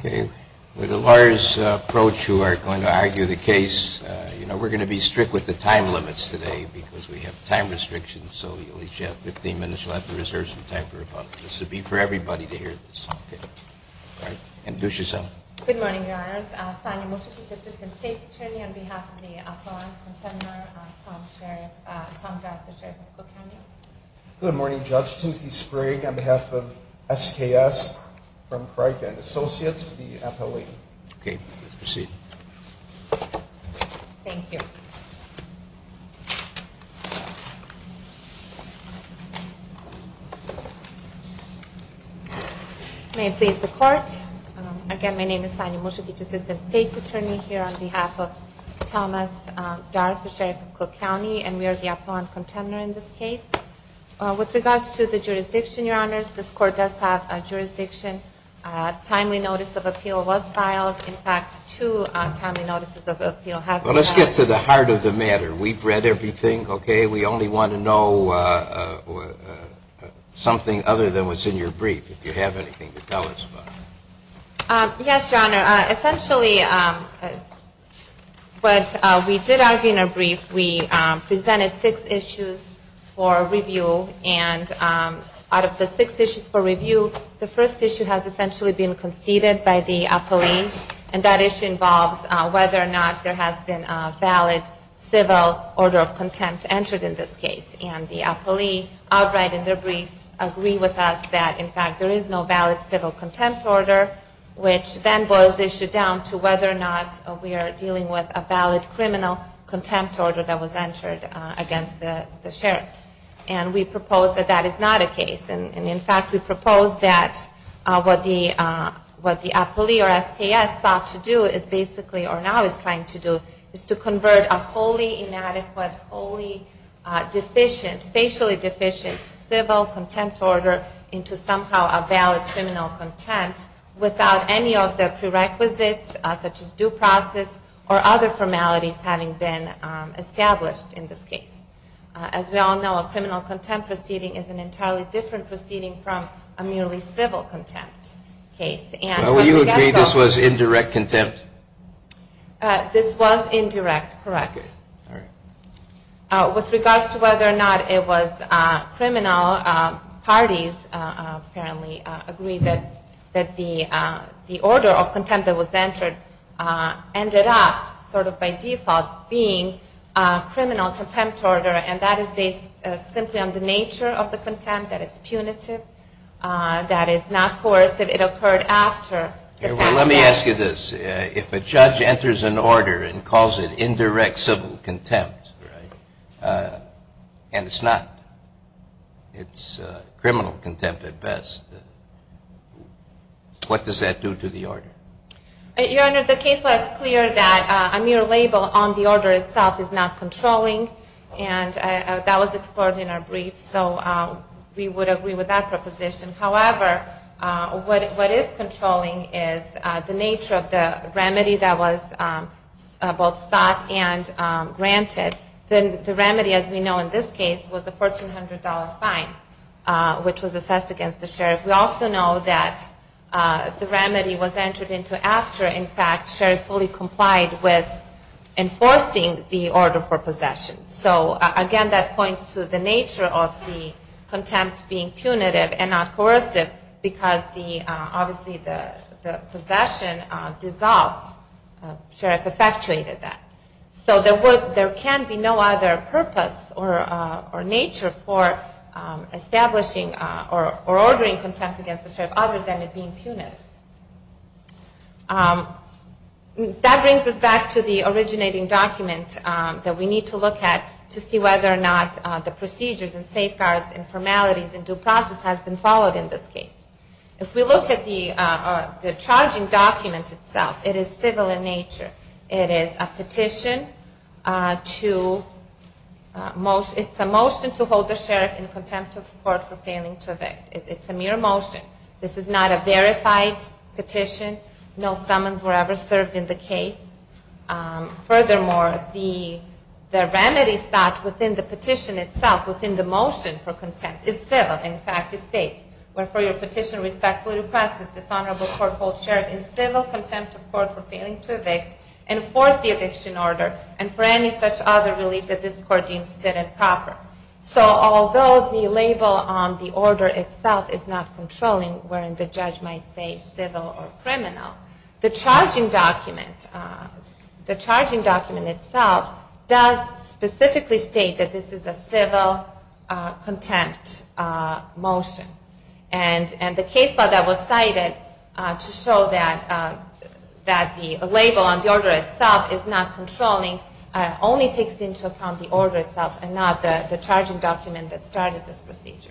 Okay. With a lawyer's approach who are going to argue the case, you know, we're going to be strict with the time limits today because we have time restrictions, so you'll at least have 15 minutes. You'll have to reserve some time for rebuttal. This will be for everybody to hear this. Okay. All right. Introduce yourself. Good morning, Your Honors. I sign a motion to assist the State's Attorney on behalf of the Appalachian Contemporary, Tom Darper, Sheriff of Cook County. Good morning, Judge Timothy Sprague. On behalf of SKS & Associates, the appellee. Okay. Please proceed. Thank you. May it please the Court. Again, my name is Sanya Mushakich, Assistant State's Attorney here on behalf of Thomas Darper, Sheriff of Cook County, and we are the Appalachian Contemporary in this case. With regards to the jurisdiction, Your Honors, this Court does have a jurisdiction. Timely notice of appeal was filed. In fact, two timely notices of appeal have been filed. Well, let's get to the heart of the matter. We've read everything. Okay. We only want to know something other than what's in your brief, if you have anything to tell us about it. Yes, Your Honor. Essentially, what we did argue in our brief, we presented six issues for review, and out of the six issues for review, the first issue has essentially been conceded by the appellee, and that issue involves whether or not there has been a valid civil order of contempt entered in this case. And the appellee, outright in their brief, agreed with us that, in fact, there is no valid civil contempt order, which then boils the issue down to whether or not we are dealing with a valid criminal contempt order that was entered against the sheriff. And we propose that that is not the case. And, in fact, we propose that what the appellee or SPS sought to do is basically, or now is trying to do, is to convert a wholly inadequate, wholly deficient, facially deficient civil contempt order into somehow a valid criminal contempt without any of the prerequisites such as due process or other formalities having been established in this case. As we all know, a criminal contempt proceeding is an entirely different proceeding from a merely civil contempt case. Will you agree this was indirect contempt? This was indirect, correct. With regards to whether or not it was criminal, parties apparently agree that the order of contempt that was entered ended up, sort of by default, being a criminal contempt order, and that is based simply on the nature of the contempt, that it's punitive, that it's not coercive, it occurred after. Let me ask you this. If a judge enters an order and calls it indirect civil contempt, and it's not, it's criminal contempt at best, what does that do to the order? Your Honor, the case was clear that a mere label on the order itself is not controlling, and that was explored in our brief, so we would agree with that proposition. However, what is controlling is the nature of the remedy that was both sought and granted. The remedy, as we know in this case, was a $1,400 fine, which was assessed against the sheriff. We also know that the remedy was entered into after, in fact, sheriff fully complied with enforcing the order for possession. So, again, that points to the nature of the contempt being punitive and not coercive because the, obviously, the possession dissolved, sheriff effectuated that. So, there can be no other purpose or nature for establishing or ordering contempt against the sheriff other than it being punitive. That brings us back to the originating document that we need to look at to see whether or not the procedures and safeguards and formalities and due process has been followed in this case. If we look at the charging document itself, it is civil in nature. It is a petition to, it's a motion to hold the sheriff in contempt of court for failing to evict. It's a mere motion. This is not a verified petition. No summons were ever served in the case. Furthermore, the remedy sought within the petition itself, within the motion for contempt, is civil. In fact, it states, Wherefore, your petition respectfully requests that this honorable court hold sheriff in civil contempt of court for failing to evict, enforce the eviction order, and for any such other relief that this court deems fit and proper. So, although the label on the order itself is not controlling, wherein the judge might say civil or criminal, the charging document itself does specifically state that this is a civil contempt motion. And the case file that was cited to show that the label on the order itself is not controlling only takes into account the order itself and not the charging document that started this procedure.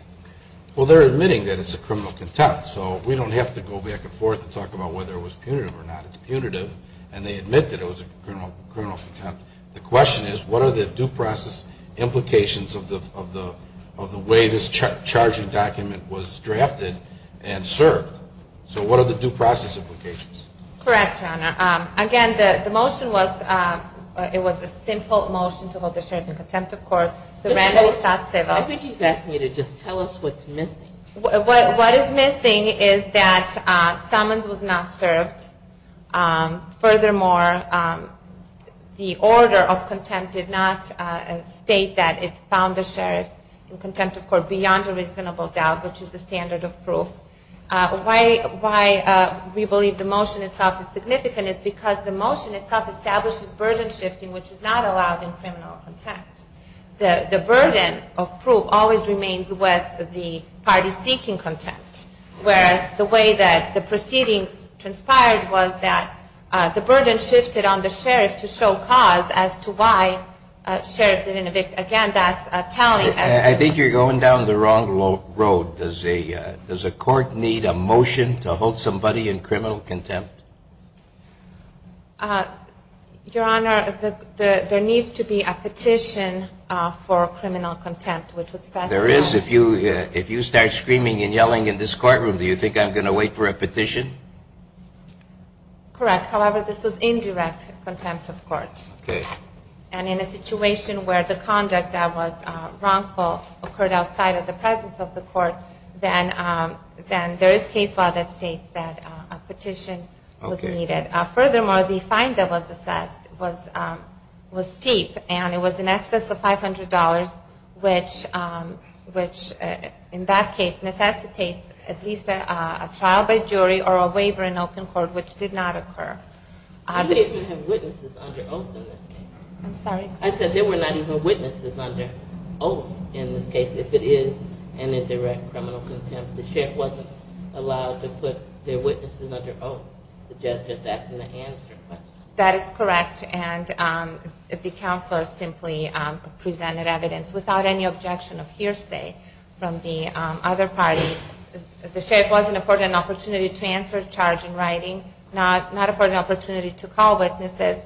Well, they're admitting that it's a criminal contempt, so we don't have to go back and forth and talk about whether it was punitive or not. It's punitive, and they admit that it was a criminal contempt. The question is, what are the due process implications of the way this charging document was drafted and served? So, what are the due process implications? Correct, Your Honor. Again, the motion was, it was a simple motion to hold the sheriff in contempt of court. The remedy sought civil. I think he's asking you to just tell us what's missing. What is missing is that summons was not served. Furthermore, the order of contempt did not state that it found the sheriff in contempt of court beyond a reasonable doubt, which is the standard of proof. Why we believe the motion itself is significant is because the motion itself establishes burden shifting, which is not allowed in criminal contempt. The burden of proof always remains with the party seeking contempt, whereas the way that the proceedings transpired was that the burden shifted on the sheriff to show cause as to why sheriff didn't evict. Again, that's a tally. I think you're going down the wrong road. Does a court need a motion to hold somebody in criminal contempt? Your Honor, there needs to be a petition for criminal contempt. There is. If you start screaming and yelling in this courtroom, do you think I'm going to wait for a petition? Correct. However, this was indirect contempt of court. And in a situation where the conduct that was wrongful occurred outside of the presence of the court, then there is case law that states that a petition was needed. I said there were not even witnesses under oath in this case if it is an indirect criminal contempt. The sheriff wasn't allowed to put their witnesses under oath. That is correct. And the counselor simply presented evidence without any objection of hearsay from the other party. The sheriff wasn't afforded an opportunity to answer a charge in writing, not afforded an opportunity to call witnesses.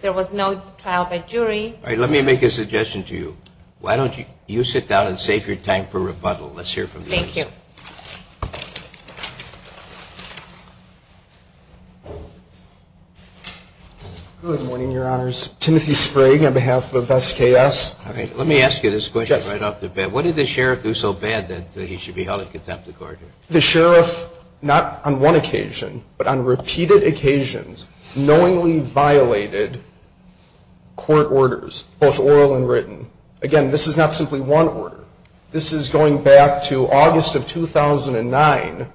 There was no trial by jury. All right, let me make a suggestion to you. Why don't you sit down and save your time for rebuttal. Let's hear from the witnesses. Thank you. Good morning, Your Honors. Timothy Sprague on behalf of SKS. Let me ask you this question right off the bat. What did the sheriff do so bad that he should be held in contempt of court? The sheriff, not on one occasion, but on repeated occasions, knowingly violated court orders, both oral and written. Again, this is not simply one order. This is going back to August of 2009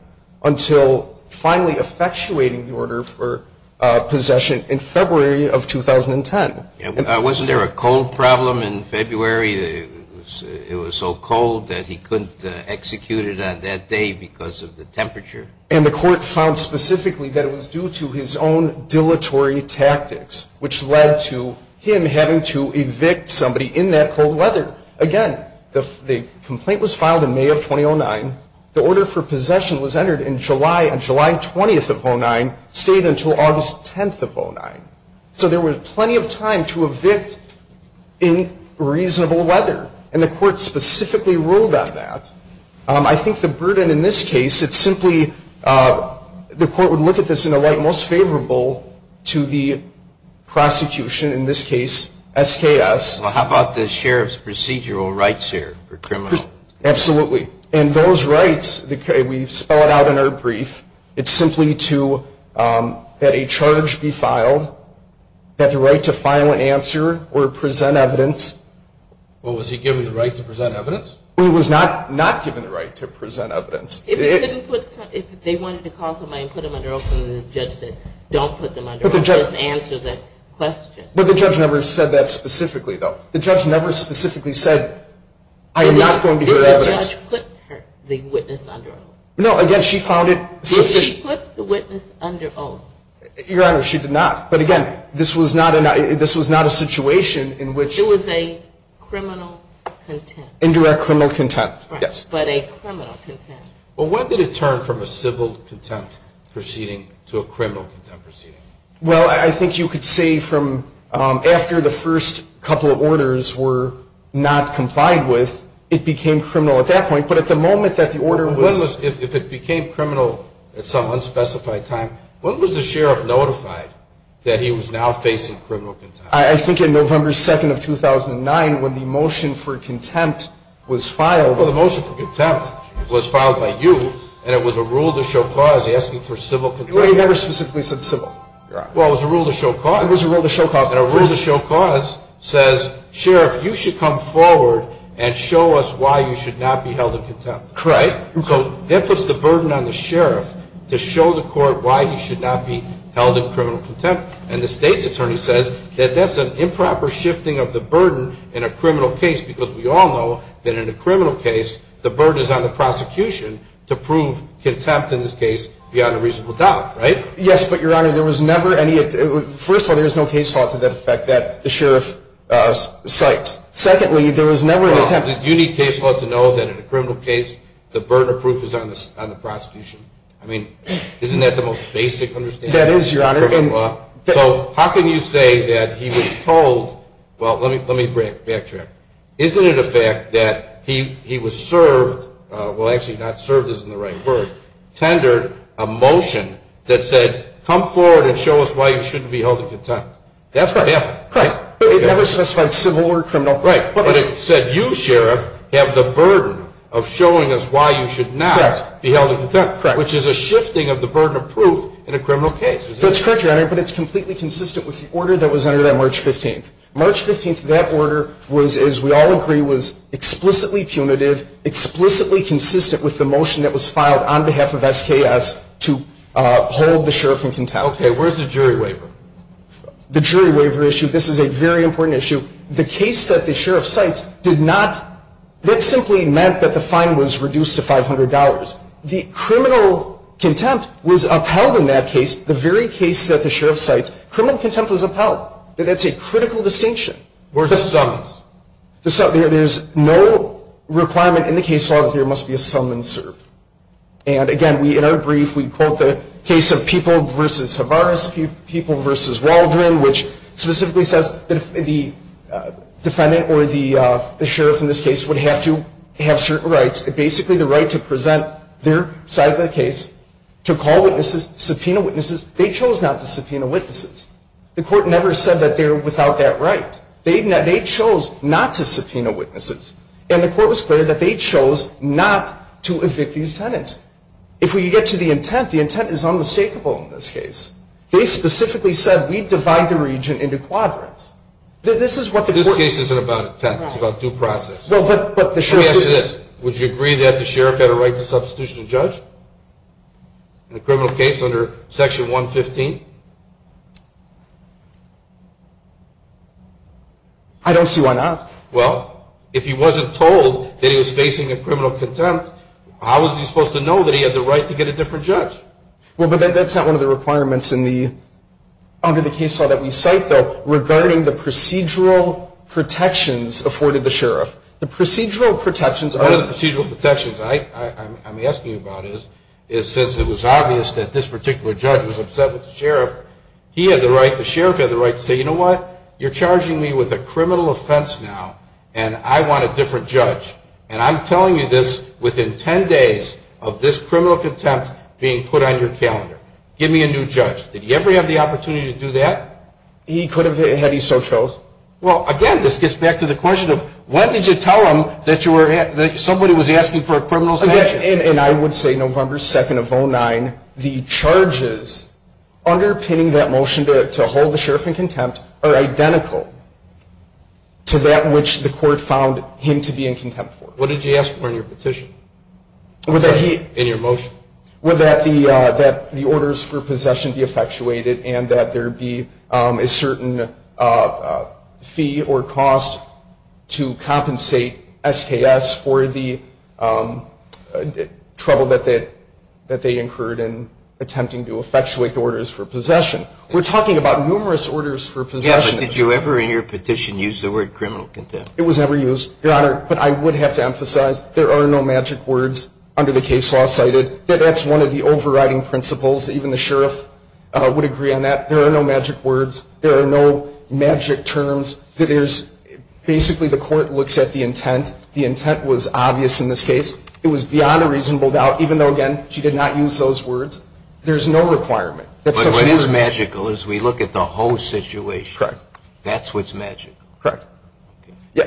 until finally effectuating the order for possession in February of 2010. Wasn't there a cold problem in February? It was so cold that he couldn't execute it on that day because of the temperature. And the court found specifically that it was due to his own dilatory tactics, which led to him having to evict somebody in that cold weather. Again, the complaint was filed in May of 2009. The order for possession was entered in July and July 20th of 2009 stayed until August 10th of 2009. So there was plenty of time to evict in reasonable weather. And the court specifically ruled on that. I think the burden in this case, it's simply, the court would look at this in a light most favorable to the prosecution, in this case, SKS. How about the sheriff's procedural rights here for criminal? Absolutely. And those rights, we spell it out in our brief, it's simply that a charge be filed, that the right to file an answer or present evidence. Well, was he given the right to present evidence? He was not given the right to present evidence. If they wanted to call somebody and put them under oath and the judge said, don't put them under oath, just answer the question. But the judge never said that specifically, though. The judge never specifically said, I am not going to hear evidence. Did the judge put the witness under oath? No, again, she found it sufficient. Did she put the witness under oath? Your Honor, she did not. But again, this was not a situation in which. It was a criminal contempt. Indirect criminal contempt, yes. But a criminal contempt. Well, when did it turn from a civil contempt proceeding to a criminal contempt proceeding? Well, I think you could say from after the first couple of orders were not complied with, it became criminal at that point. But at the moment that the order was. If it became criminal at some unspecified time, when was the sheriff notified that he was now facing criminal contempt? I think in November 2nd of 2009 when the motion for contempt was filed. Well, the motion for contempt was filed by you and it was a rule to show cause asking for civil contempt. Well, he never specifically said civil. Well, it was a rule to show cause. It was a rule to show cause. And a rule to show cause says, sheriff, you should come forward and show us why you should not be held in contempt. Correct. So that puts the burden on the sheriff to show the court why he should not be held in criminal contempt. And the state's attorney says that that's an improper shifting of the burden in a criminal case. Because we all know that in a criminal case, the burden is on the prosecution to prove contempt in this case beyond a reasonable doubt, right? Yes, but, Your Honor, there was never any attempt. First of all, there was no case law to that effect that the sheriff cites. Secondly, there was never an attempt. Well, did you need case law to know that in a criminal case, the burden of proof is on the prosecution? I mean, isn't that the most basic understanding of criminal law? That is, Your Honor. So how can you say that he was told, well, let me backtrack. Isn't it a fact that he was served, well, actually not served isn't the right word, tendered a motion that said, come forward and show us why you shouldn't be held in contempt. That's what happened. Correct. But it never specified civil or criminal. Right. But it said, you, sheriff, have the burden of showing us why you should not be held in contempt. Correct. Which is a shifting of the burden of proof in a criminal case. That's correct, Your Honor, but it's completely consistent with the order that was entered on March 15th. March 15th, that order was, as we all agree, was explicitly punitive, explicitly consistent with the motion that was filed on behalf of SKS to hold the sheriff in contempt. Okay, where's the jury waiver? The jury waiver issue, this is a very important issue. The case that the sheriff cites did not, that simply meant that the fine was reduced to $500. The criminal contempt was upheld in that case, the very case that the sheriff cites, criminal contempt was upheld. That's a critical distinction. Where's the summons? There's no requirement in the case law that there must be a summons served. And, again, we, in our brief, we quote the case of People v. Havaris, People v. Waldron, which specifically says that the defendant or the sheriff in this case would have to have certain rights, basically the right to present their side of the case, to call witnesses, subpoena witnesses. They chose not to subpoena witnesses. The court never said that they're without that right. They chose not to subpoena witnesses. And the court was clear that they chose not to evict these tenants. If we get to the intent, the intent is unmistakable in this case. They specifically said, we divide the region into quadrants. This is what the court said. This case isn't about intent, it's about due process. Let me ask you this. Would you agree that the sheriff had a right to substitution of judge in a criminal case under Section 115? I don't see why not. Well, if he wasn't told that he was facing a criminal contempt, how was he supposed to know that he had the right to get a different judge? Well, but that's not one of the requirements under the case law that we cite, though, regarding the procedural protections afforded the sheriff. One of the procedural protections I'm asking you about is, since it was obvious that this particular judge was upset with the sheriff, he had the right, the sheriff had the right to say, you know what? You're charging me with a criminal offense now, and I want a different judge. And I'm telling you this within 10 days of this criminal contempt being put on your calendar. Give me a new judge. Did he ever have the opportunity to do that? He could have had he so chose. Well, again, this gets back to the question of, when did you tell him that somebody was asking for a criminal sanction? And I would say November 2nd of 09, the charges underpinning that motion to hold the sheriff in contempt are identical to that which the court found him to be in contempt for. What did you ask for in your petition, in your motion? Would that the orders for possession be effectuated and that there be a certain fee or cost to compensate SKS for the trouble that they incurred in attempting to effectuate the orders for possession? We're talking about numerous orders for possession. Yeah, but did you ever in your petition use the word criminal contempt? It was never used, Your Honor, but I would have to emphasize, there are no magic words under the case law cited. That's one of the overriding principles. Even the sheriff would agree on that. There are no magic words. There are no magic terms. Basically, the court looks at the intent. The intent was obvious in this case. It was beyond a reasonable doubt, even though, again, she did not use those words. There's no requirement. But what is magical is we look at the whole situation. Correct. That's what's magical. Correct.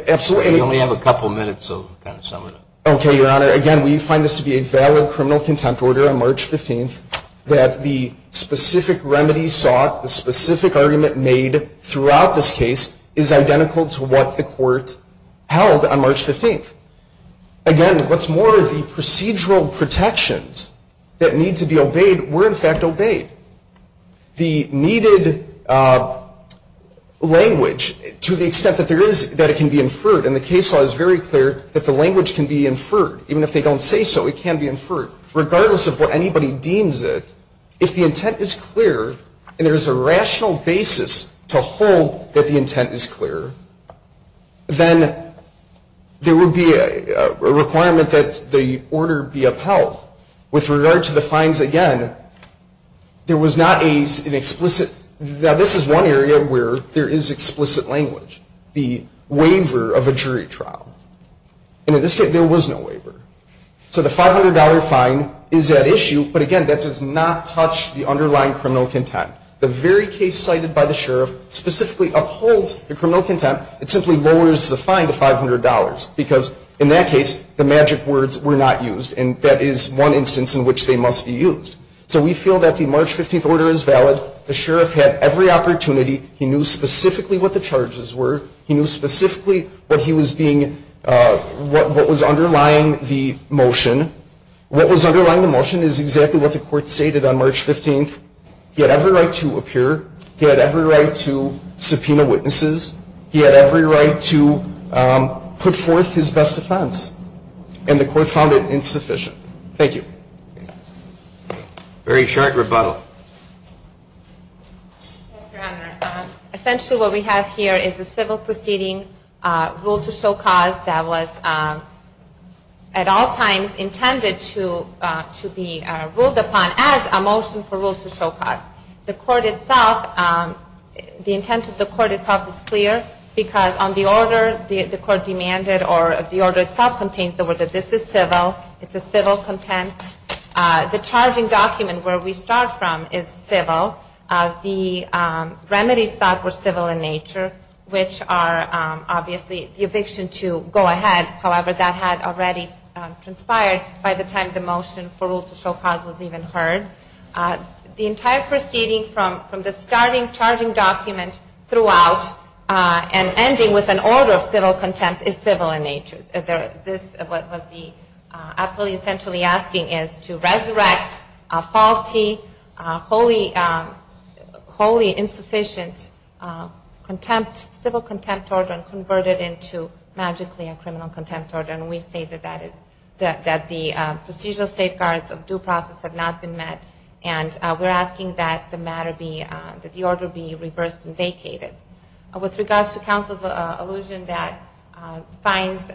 Absolutely. We only have a couple minutes, so kind of sum it up. Okay, Your Honor. Again, we find this to be a valid criminal contempt order on March 15th that the specific remedy sought, the specific argument made throughout this case is identical to what the court held on March 15th. Again, what's more, the procedural protections that need to be obeyed were, in fact, obeyed. The needed language, to the extent that it can be inferred, and the case law is very clear that the language can be inferred. Even if they don't say so, it can be inferred. Regardless of what anybody deems it, if the intent is clear and there is a rational basis to hold that the intent is clear, then there would be a requirement that the order be upheld. With regard to the fines, again, there was not an explicit. Now, this is one area where there is explicit language. The waiver of a jury trial. In this case, there was no waiver. So the $500 fine is at issue, but again, that does not touch the underlying criminal contempt. The very case cited by the sheriff specifically upholds the criminal contempt. It simply lowers the fine to $500 because, in that case, the magic words were not used, and that is one instance in which they must be used. So we feel that the March 15th order is valid. The sheriff had every opportunity. He knew specifically what the charges were. He knew specifically what was underlying the motion. What was underlying the motion is exactly what the court stated on March 15th. He had every right to appear. He had every right to subpoena witnesses. He had every right to put forth his best defense. And the court found it insufficient. Thank you. Very short rebuttal. Yes, Your Honor. Essentially, what we have here is a civil proceeding, rule to show cause, that was at all times intended to be ruled upon as a motion for rule to show cause. The court itself, the intent of the court itself is clear because on the order the court demanded or the order itself contains the word that this is civil. It's a civil contempt. The charging document where we start from is civil. The remedies sought were civil in nature, which are obviously the eviction to go ahead. However, that had already transpired by the time the motion for rule to show cause was even heard. The entire proceeding from the starting charging document throughout and ending with an order of civil contempt is civil in nature. What the appellee is essentially asking is to resurrect a faulty, wholly insufficient civil contempt order and convert it into magically a criminal contempt order. And we state that the procedural safeguards of due process have not been met. And we're asking that the matter be, that the order be reversed and vacated. With regards to counsel's allusion that fines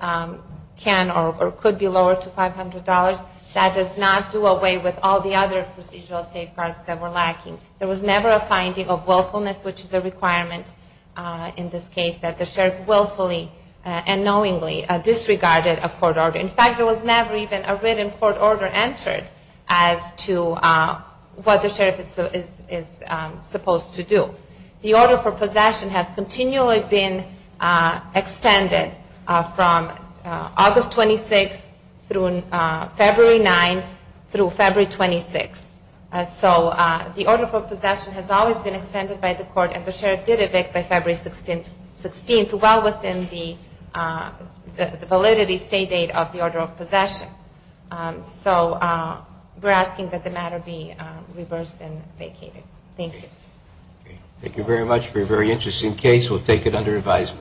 can or could be lowered to $500, that does not do away with all the other procedural safeguards that were lacking. There was never a finding of willfulness, which is a requirement in this case, that the sheriff willfully and knowingly disregarded a court order. In fact, there was never even a written court order entered as to what the sheriff is supposed to do. The order for possession has continually been extended from August 26 through February 9 through February 26. So the order for possession has always been extended by the court, and the sheriff did evict by February 16, well within the validity stay date of the order of possession. So we're asking that the matter be reversed and vacated. Thank you. Thank you very much for your very interesting case. We'll take it under advisement.